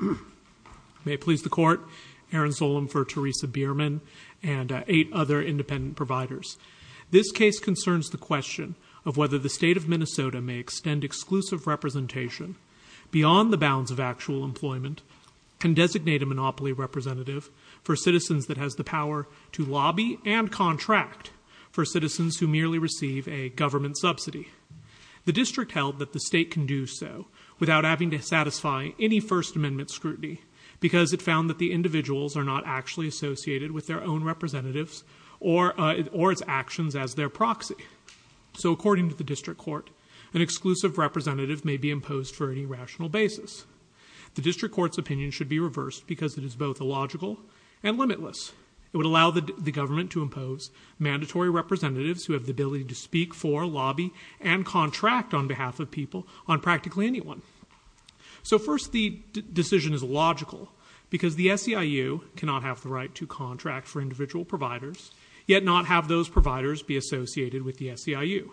May it please the court, Aaron Solem for Teresa Bierman and eight other independent providers. This case concerns the question of whether the state of Minnesota may extend exclusive representation beyond the bounds of actual employment and designate a monopoly representative for citizens that has the power to lobby and contract for citizens who merely receive a government subsidy. The district held that the state can do so without having to satisfy any First Amendment scrutiny because it found that the individuals are not actually associated with their own representatives or or its actions as their proxy. So according to the district court, an exclusive representative may be imposed for any rational basis. The district court's opinion should be reversed because it is both illogical and limitless. It would allow the government to impose mandatory representatives who have the ability to speak for lobby and contract on behalf of people on practically anyone. So first the decision is logical because the SEIU cannot have the right to contract for individual providers yet not have those providers be associated with the SEIU.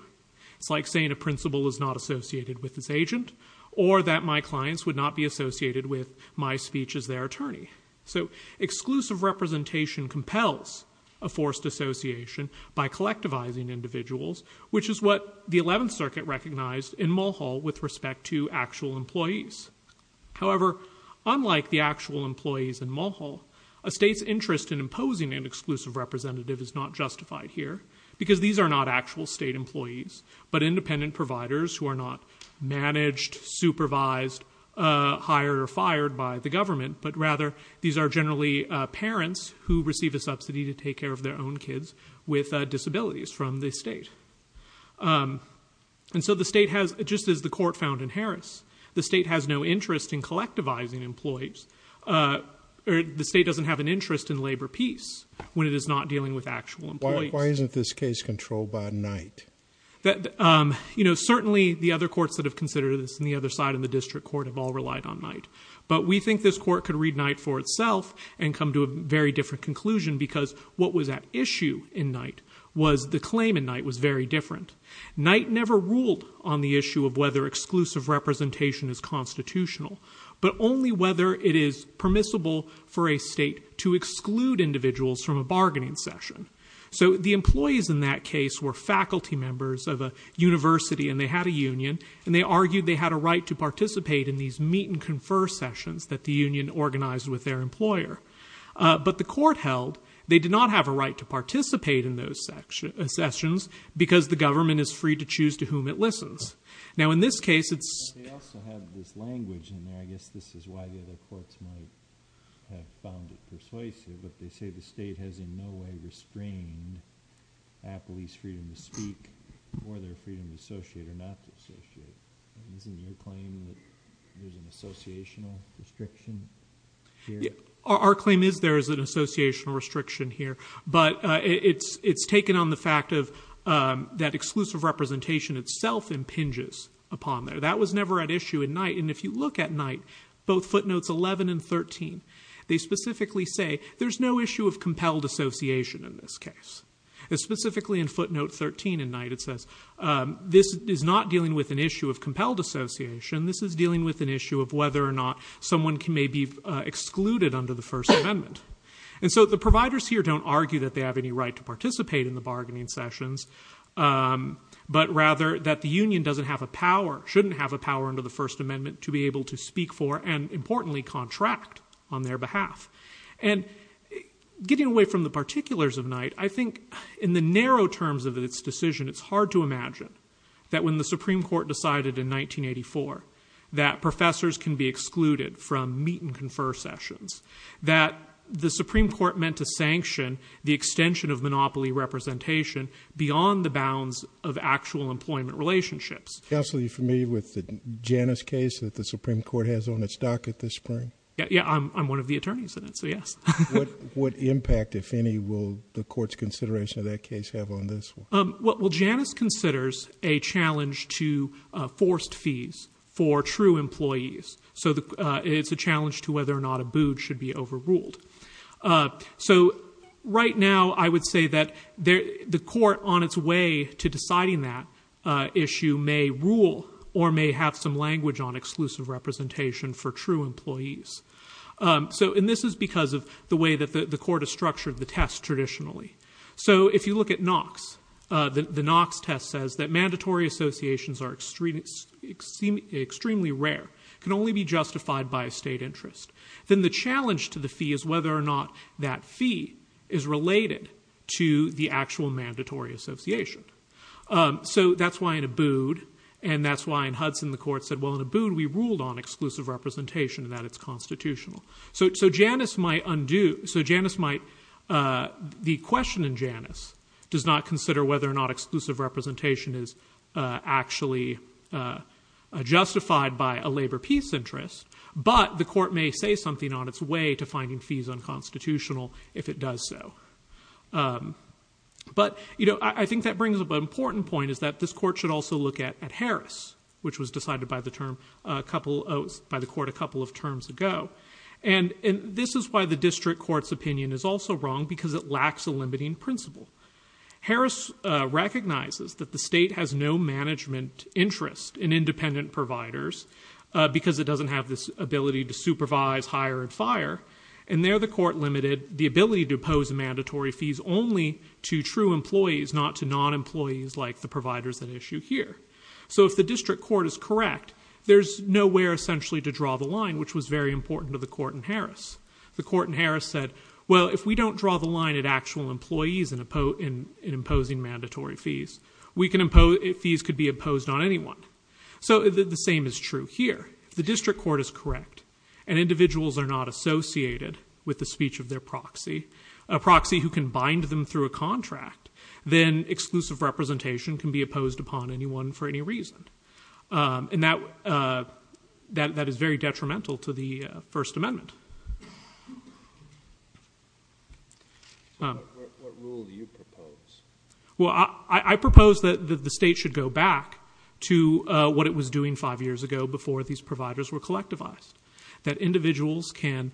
It's like saying a principal is not associated with this agent or that my clients would not be associated with my speech as their attorney. So exclusive representation compels a forced association by collectivizing individuals which is what the 11th Circuit recognized in Mulhall with respect to actual employees. However, unlike the actual employees in Mulhall, a state's interest in imposing an exclusive representative is not justified here because these are not actual state employees but independent providers who are not managed, supervised, hired or fired by the government but rather these are generally parents who receive a subsidy to take care of their own kids with disabilities from the state. And so the state has, just as the court found in Harris, the state has no interest in collectivizing employees. The state doesn't have an interest in labor peace when it is not dealing with actual employees. Why isn't this case controlled by Knight? You know, certainly the other courts that have considered this and the other side of the district court have all relied on Knight. But we think this court could read Knight for itself and come to a very different conclusion because what was at issue in Knight was the claim in Knight was very different. Knight never ruled on the issue of whether exclusive representation is constitutional but only whether it is permissible for a state to exclude individuals from a bargaining session. So the employees in that case were faculty members of a university and they had a union and they argued they had a right to participate in these meet and confer sessions that the union organized with their employer. But the court held they did not have a right to participate in those sessions because the government is free to choose to whom it listens. Now in this case it's... They also have this language in there, I guess this is why the other courts might have found it persuasive, but they say the state has in no way restrained employees' freedom to speak or their freedom to associate or not to associate. Isn't your claim that there's an associational restriction here? Our claim is there is an associational restriction here but it's taken on the fact of that exclusive representation itself impinges upon there. That was never at issue in Knight and if you look at Knight, both footnotes 11 and 13, they specifically in footnote 13 in Knight it says this is not dealing with an issue of compelled association, this is dealing with an issue of whether or not someone can maybe excluded under the First Amendment. And so the providers here don't argue that they have any right to participate in the bargaining sessions but rather that the union doesn't have a power, shouldn't have a power under the First Amendment to be able to speak for and importantly contract on their behalf. And getting away from the particulars of Knight, I think in the narrow terms of its decision it's hard to imagine that when the Supreme Court decided in 1984 that professors can be excluded from meet-and-confer sessions, that the Supreme Court meant to sanction the extension of monopoly representation beyond the bounds of actual employment relationships. Counselor, are you familiar with the Janus case that the Supreme Court has on its docket this spring? Yeah, I'm one of the attorneys in it, so yes. What impact, if any, will the court's consideration of that case have on this? Well Janus considers a challenge to forced fees for true employees, so it's a challenge to whether or not a boot should be overruled. So right now I would say that the court on its way to deciding that issue may rule or may have some language on exclusive representation for true employees. And this is because of the way that the court has structured the test traditionally. So if you look at Knox, the Knox test says that mandatory associations are extremely rare, can only be justified by a state interest. Then the challenge to the fee is whether or not that fee is related to the actual mandatory association. So that's why in Abood and that's why in exclusive representation that it's constitutional. So Janus might undo, so Janus might, the question in Janus does not consider whether or not exclusive representation is actually justified by a labor-peace interest, but the court may say something on its way to finding fees unconstitutional if it does so. But you know I think that brings up an important point is that this court should also look at Harris, which was decided by the term a couple, by the court a couple of terms ago. And this is why the district court's opinion is also wrong because it lacks a limiting principle. Harris recognizes that the state has no management interest in independent providers because it doesn't have this ability to supervise, hire, and fire. And there the court limited the ability to impose mandatory fees only to true employees, not to non-employees like the state. So if the district court is correct, there's nowhere essentially to draw the line, which was very important to the court in Harris. The court in Harris said, well if we don't draw the line at actual employees in imposing mandatory fees, we can impose, fees could be imposed on anyone. So the same is true here. The district court is correct and individuals are not associated with the speech of their proxy, a proxy who can bind them through a contract, then exclusive representation can be opposed upon anyone for any reason. And that, that is very detrimental to the First Amendment. What rule do you propose? Well, I propose that the state should go back to what it was doing five years ago before these providers were collectivized. That individuals can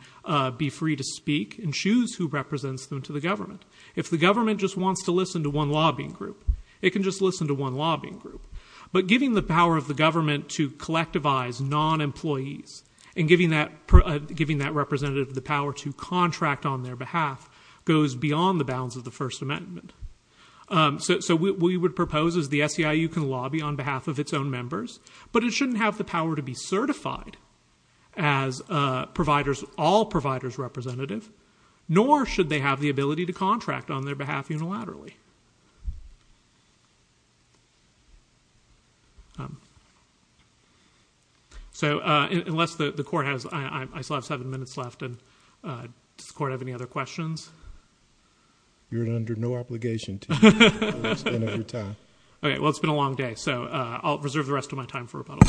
be free to speak and choose who represents them to the government. If the government just wants to listen to one lobbying group, it can just listen to one lobbying group. But giving the power of the government to collectivize non-employees and giving that, giving that representative the power to contract on their behalf goes beyond the bounds of the First Amendment. So we would propose is the SEIU can lobby on behalf of its own members, but it shouldn't have the power to be certified as providers, all providers representative, nor should they have the power to do so voluntarily. So unless the court has, I still have seven minutes left, and does the court have any other questions? You're under no obligation to do that for the rest of your time. Okay, well it's been a long day, so I'll reserve the rest of my time for rebuttal.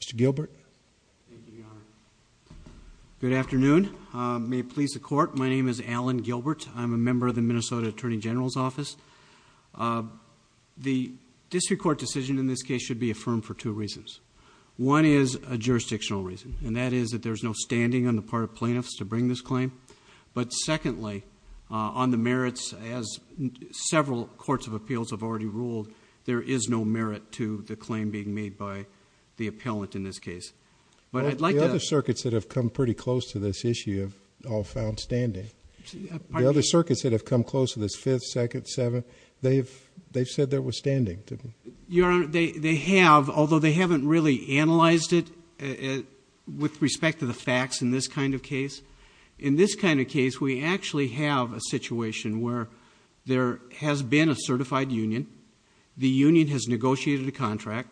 Mr. Gilbert? Good afternoon. May it please the court, my name is Alan Gilbert. I'm a member of the Minnesota Attorney General's Office. The district court decision in this case should be affirmed for two reasons. One is a jurisdictional reason, and that is that there's no standing on the part of plaintiffs to bring this claim. But secondly, on the merits as several courts of appeals have already ruled, there is no merit to the claim being made by the appellant in this case. The other circuits that have come pretty close to this issue have all found standing. The other circuits that have come close to this fifth, second, seventh, they've said there was standing. Your Honor, they have, although they haven't really analyzed it with respect to the facts in this kind of case. In this kind of case, we actually have a situation where there has been a certified union, the union has negotiated a contract,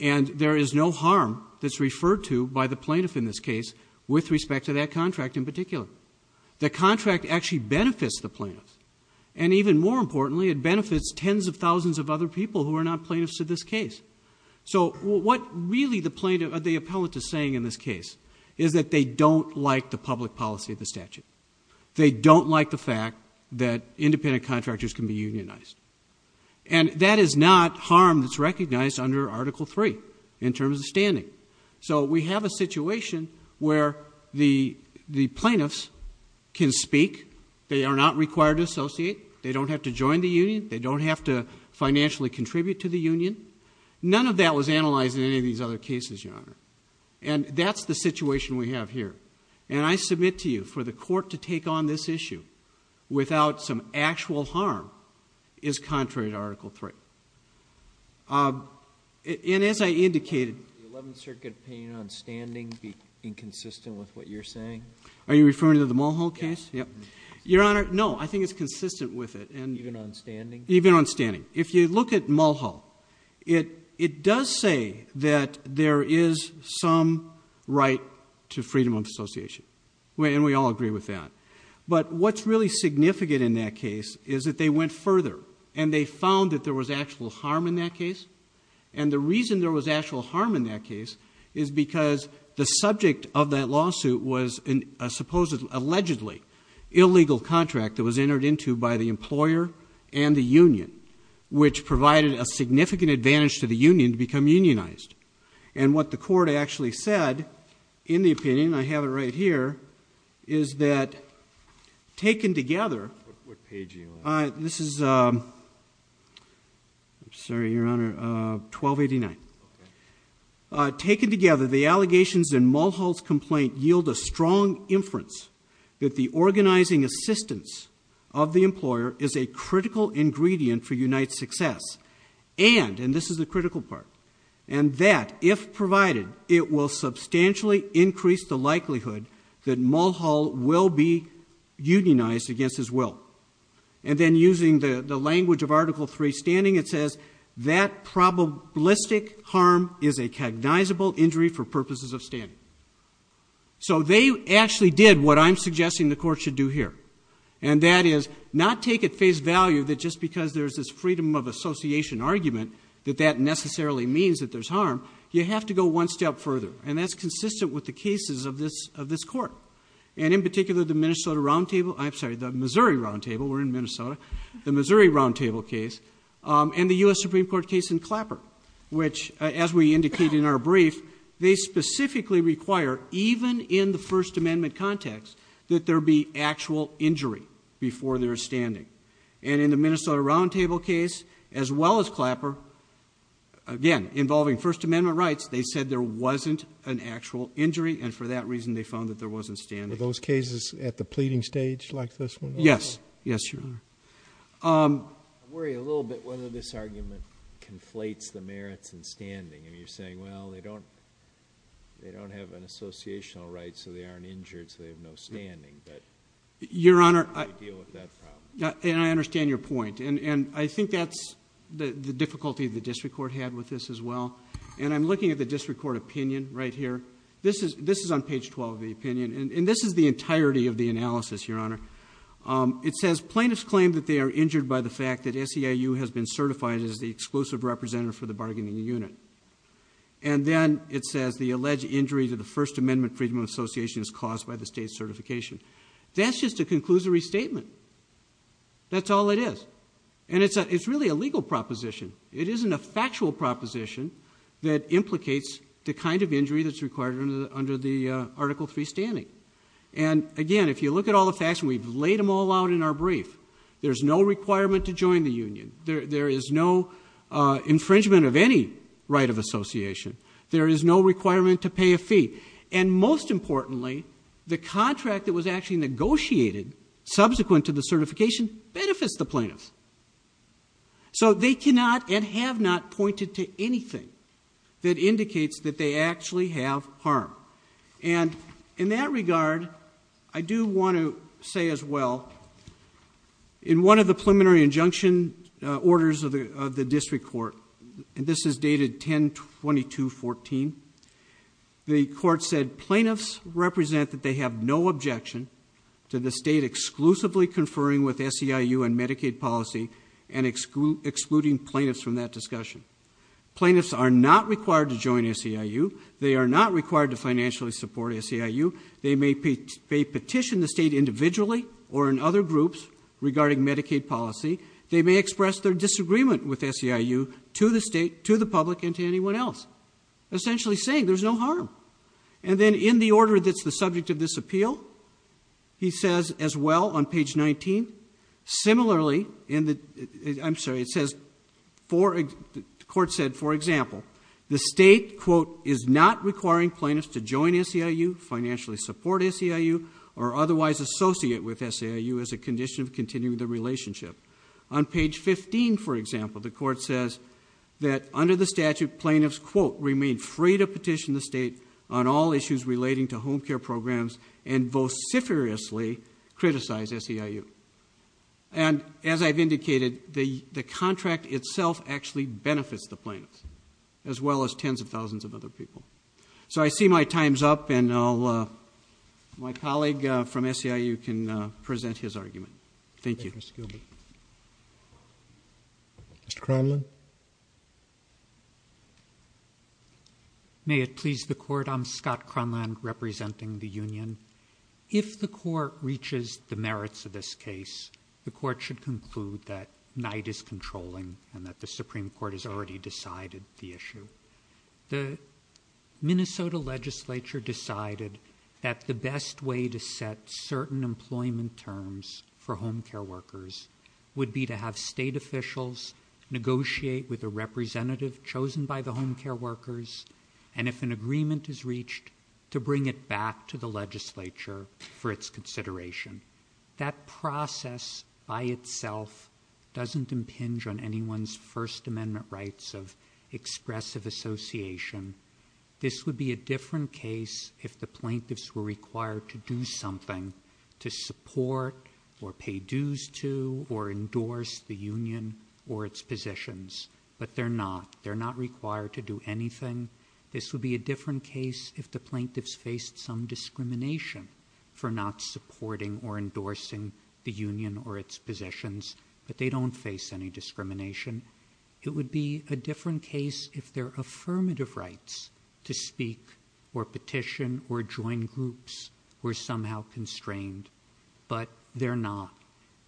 and there is no harm that's referred to by the plaintiff in this case with respect to that contract in particular. The contract actually benefits the plaintiffs. And even more importantly, it benefits tens of thousands of other people who are not plaintiffs to this case. So what really the plaintiff, or the appellant, is saying in this case is that they don't like the public policy of the statute. They don't like the fact that independent contractors can be unionized. And that is not harm that's recognized under Article III in terms of standing. So we have a situation where the plaintiffs can speak, they are not required to associate, they don't have to join the union, they don't have to financially contribute to the union. None of that was analyzed in any of these other cases, Your Honor. And that's the situation we have here. And I submit to you, for the court to take on this issue without some actual harm is contrary to Article III. And as I indicated... The Eleventh Circuit opinion on standing be inconsistent with what you're saying? Are you referring to the Mulhall case? Yes. Your Honor, no. I think it's consistent with it. Even on standing? If you look at Mulhall, it does say that there is some right to freedom of association. And we all agree with that. But what's really significant in that case is that they went further, and they found that there was actual harm in that case. And the reason there was actual harm in that case is because the subject of that lawsuit was a supposedly, allegedly, illegal contract that was which provided a significant advantage to the union to become unionized. And what the court actually said, in the opinion, I have it right here, is that taken together... What page are you on? This is... I'm sorry, Your Honor. 1289. Okay. Taken together, the allegations in Mulhall's complaint yield a strong inference that the organizing assistance of the employer is a critical ingredient for unite's success. And, and this is the critical part, and that, if provided, it will substantially increase the likelihood that Mulhall will be unionized against his will. And then using the language of Article III standing, it says, that probabilistic harm is a cognizable injury for purposes of standing. So they actually did what I'm suggesting the court should do here. And that is, not take at face value that just because there's this freedom of association argument, that that necessarily means that there's harm. You have to go one step further. And that's consistent with the cases of this, of this court. And in particular, the Minnesota Roundtable, I'm sorry, the Missouri Roundtable, we're in Minnesota, the Missouri Roundtable case, and the U.S. Supreme Court case in Clapper. Which, as we indicated in our brief, they specifically require, even in the First Amendment context, that there be actual injury before there's standing. And in the Minnesota Roundtable case, as well as Clapper, again, involving First Amendment rights, they said there wasn't an actual injury, and for that reason they found that there wasn't standing. Are those cases at the pleading stage, like this one? Yes. Yes, Your Honor. I worry a little bit whether this argument conflates the merits and standing. I mean, you're saying, well, they don't, they don't have an associational right, so they aren't injured, so they have no standing. But... Your Honor... How do you deal with that problem? And I understand your point. And I think that's the difficulty the district court had with this, as well. And I'm looking at the district court opinion right here. This is, this is on page 12 of the opinion. And this is the entirety of the analysis, Your Honor. It says plaintiffs claim that they are injured by the fact that SEIU has been certified as the exclusive representative for the bargaining unit. And then it says the alleged injury to the First Amendment Freedom of Association is caused by the state's certification. That's just a conclusory statement. That's all it is. And it's a, it's really a legal proposition. It isn't a factual proposition that implicates the kind of injury that's required under the, under the Article III standing. And, again, if you look at all the facts, and we've laid them all out in our brief, there's no requirement to join the union. There, there is no infringement of any right of association. There is no infringement. The contract that was actually negotiated subsequent to the certification benefits the plaintiffs. So they cannot and have not pointed to anything that indicates that they actually have harm. And in that regard, I do want to say as well, in one of the preliminary injunction orders of the, of the district court, and this is dated 10-22-14, the court said plaintiffs represent that they have no objection to the state exclusively conferring with SEIU and Medicaid policy and excluding plaintiffs from that discussion. Plaintiffs are not required to join SEIU. They are not required to financially support SEIU. They may petition the state individually or in other groups regarding Medicaid policy. They may express their disagreement with SEIU to the state, to the public, and to anyone else. Essentially saying there's no harm. And then in the order that's the subject of this appeal, he says as well on page 19, similarly in the, I'm sorry, it says for, the court said, for example, the state, quote, is not requiring plaintiffs to join SEIU, financially support SEIU, or otherwise associate with SEIU as a condition of continuing the relationship. On page 15, for example, the court says that under the statute plaintiffs, quote, remain free to petition the state on all issues relating to home care programs and vociferously criticize SEIU. And as I've indicated, the contract itself actually benefits the plaintiffs as well as tens of thousands of other people. So I see my time's up and I'll, my colleague from SEIU can present his argument. Thank you. Mr. Kronland. May it please the court, I'm Scott Kronland representing the union. If the court reaches the merits of this case, the court should conclude that night is controlling and that the Supreme Court has already decided the issue. The Minnesota legislature decided that the best way to set certain employment terms for home care workers would be to have state officials negotiate with a representative chosen by the home care workers. And if an agreement is reached to bring it back to the legislature for its consideration, that process by itself doesn't impinge on anyone's first amendment rights of expressive association. This would be a different case if the plaintiffs were required to do something to support or pay dues to or endorse the union or its positions, but they're not, they're not required to do anything. This would be a different case if the plaintiffs faced some discrimination for not supporting or endorsing the union or its positions, but they don't face any discrimination. It would be a different case if their affirmative rights to speak or petition or somehow constrained, but they're not.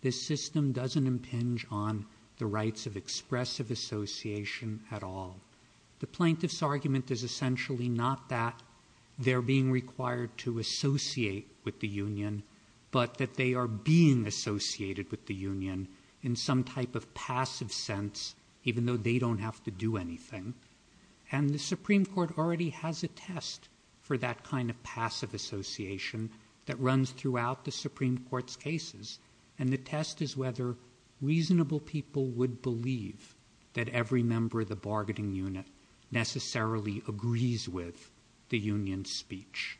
This system doesn't impinge on the rights of expressive association at all. The plaintiff's argument is essentially not that they're being required to associate with the union, but that they are being associated with the union in some type of passive sense, even though they don't have to do anything. And the test is whether reasonable people would believe that every member of the bargaining unit necessarily agrees with the union speech.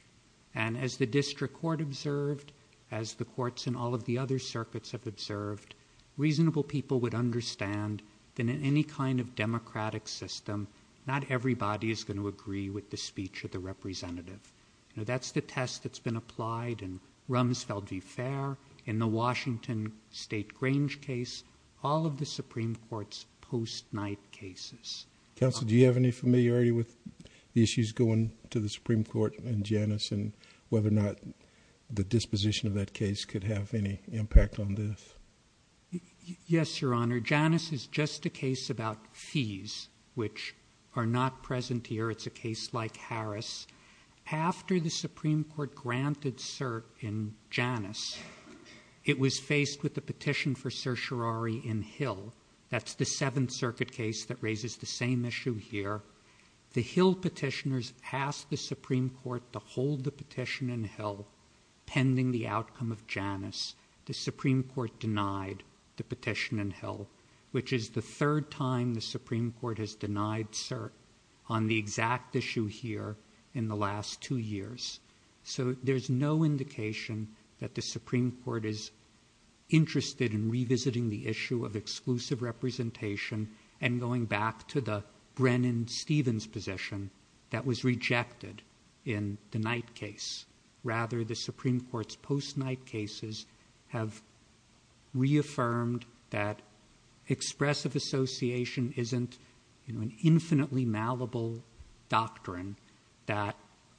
And as the district court observed, as the courts and all of the other circuits have observed, reasonable people would understand that in any kind of democratic system, not everybody is going to agree with the speech of the representative. That's the case that was applied in Rumsfeld v. Fair in the Washington state Grange case, all of the Supreme court's post night cases. Counsel, do you have any familiarity with the issues going to the Supreme court and Janice and whether or not the disposition of that case could have any impact on this? Yes, your honor. Janice is just a case about fees, which are not present here. It's a case like Harris. After the Supreme court granted cert in Janice, it was faced with the petition for certiorari in Hill. That's the seventh circuit case that raises the same issue here. The Hill petitioners passed the Supreme court to hold the petition in Hill pending the outcome of Janice. The Supreme court denied the petition in Hill, which is the third time the Supreme court has denied cert on the exact issue here in the last two years. So there's no indication that the Supreme court is interested in revisiting the issue of exclusive representation and going back to the Brennan Stevens position that was rejected in the night case. Rather, the Supreme court's post night cases have reaffirmed that expressive association isn't an infinitely malleable doctrine, that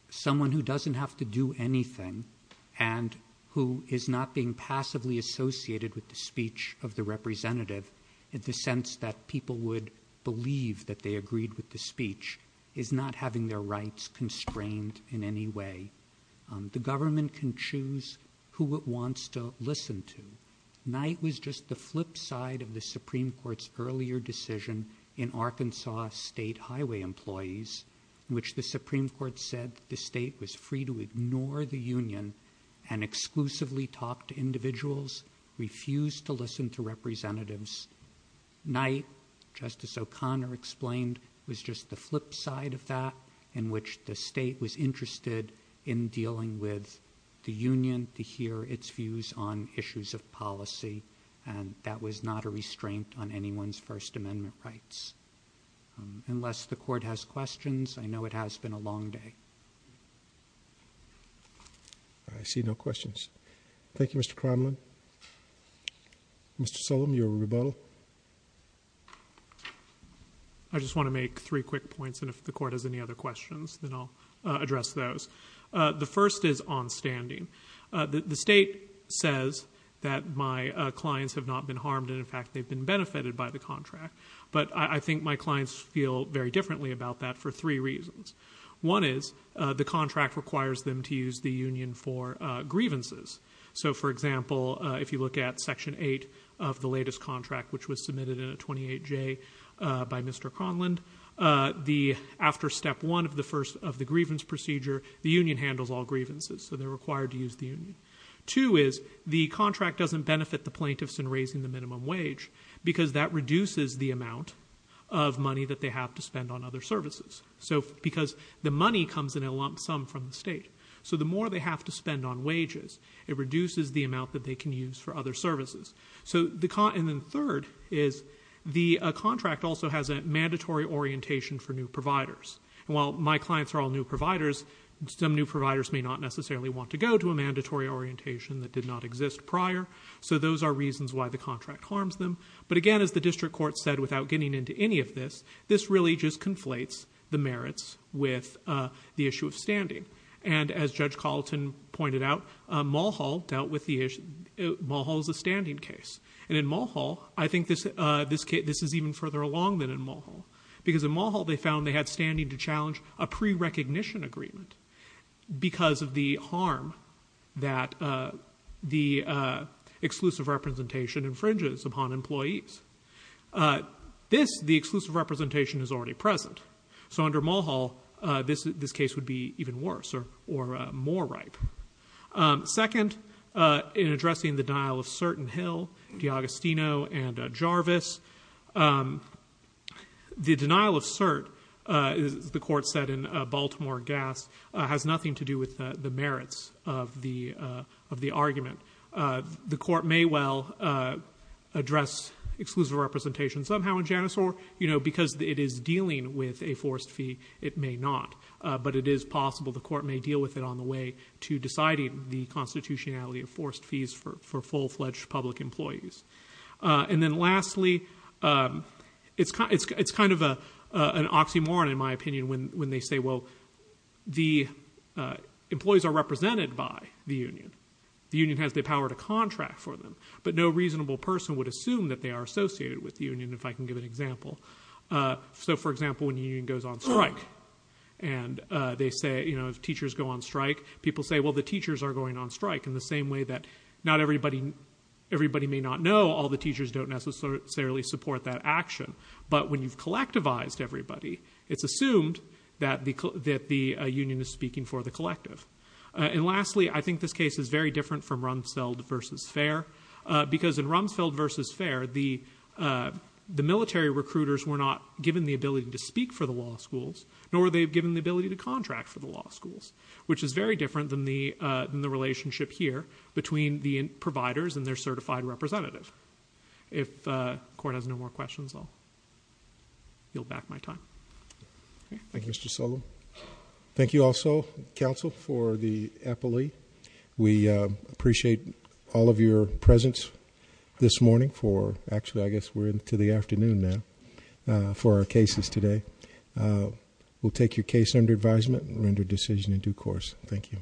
someone who doesn't have to do anything and who is not being passively associated with the speech of the representative in the sense that people would believe that they agreed with the speech is not having their rights constrained in any way. The government can choose who it wants to listen to. Night was just the flip side of the union in Arkansas state highway employees, which the Supreme court said the state was free to ignore the union and exclusively talked to individuals refused to listen to representatives night. Justice O'Connor explained was just the flip side of that in which the state was interested in dealing with the union to hear its views on issues of policy. And that was not a restraint on anyone's first amendment rights. Unless the court has questions, I know it has been a long day. I see no questions. Thank you, Mr. Kremlin. Mr. Solem, your rebuttal. I just want to make three quick points. And if the court has any other questions, then I'll address those. Uh, the first is on standing. Uh, the state says that my clients have not been harmed. And in fact, they've been benefited by the contract. But I think my clients feel very differently about that for three reasons. One is, uh, the contract requires them to use the union for, uh, grievances. So for example, uh, if you look at section eight of the latest contract, which was submitted in a 28 J, uh, by Mr. Conlon, uh, the after step one of the first of the grievance procedure, the union handles all grievances. So they're required to use the union. Two is the contract doesn't benefit the plaintiffs in raising the minimum wage because that reduces the amount of money that they have to spend on other services. So because the money comes in a lump sum from the state. So the more they have to spend on wages, it doesn't benefit them. And while my clients are all new providers, some new providers may not necessarily want to go to a mandatory orientation that did not exist prior. So those are reasons why the contract harms them. But again, as the district court said, without getting into any of this, this really just conflates the merits with, uh, the issue of standing. And as Judge Carlton pointed out, uh, Mulhall is a standing case. And in Mulhall, I think this, uh, this case, this is even further along than in Mulhall. Because in Mulhall, they found they had standing to challenge a pre-recognition agreement because of the harm that, uh, the, uh, exclusive representation infringes upon employees. Uh, this, the exclusive representation is already present. So under Mulhall, uh, this, this case would be even worse or, or, uh, more ripe. Um, second, uh, in addressing the denial of cert in Hill, DeAgostino and, uh, Jarvis. Um, the denial of cert, uh, is, the court said in, uh, Baltimore Gas, uh, has nothing to do with, uh, the merits of the, uh, of the argument. Uh, the court may well, uh, address exclusive representation somehow in Janus or, you know, because it is dealing with a forced fee, it may not. Uh, but it is possible the court may deal with it on the way to deciding the constitutionality of forced fees for, for full-fledged public employees. Uh, and then lastly, um, it's kind, it's, it's kind of a, uh, an oxymoron in my opinion when, when they say, well, the, uh, employees are represented by the union. The union has the power to contract for them. But no reasonable person would assume that they are associated with the union, if I can give an example. Uh, so for example, when the union goes on strike and, uh, they say, you know, if teachers go on strike, people say, well, the teachers are going on strike in the same way that not everybody, everybody may not know all the teachers don't necessarily support that action. But when you've collectivized everybody, it's assumed that the, that the, uh, union is speaking for the collective. Uh, and lastly, I think this case is very different from Rumsfeld versus Fair, uh, because in Rumsfeld versus Fair, the, uh, the military recruiters were not given the ability to speak for the law schools, nor were they given the ability to contract for the law schools, which is very different than the, uh, than the relationship here between the providers and their certified representative. If, uh, the court has no more questions, I'll yield back my time. Thank you, Mr. Sullivan. Thank you also, counsel, for the appellee. We, uh, appreciate all of your presence this morning for, actually, I guess we're into the afternoon now, uh, for our cases today. Uh, we'll take your case under advisement and render a decision in due course. Thank you.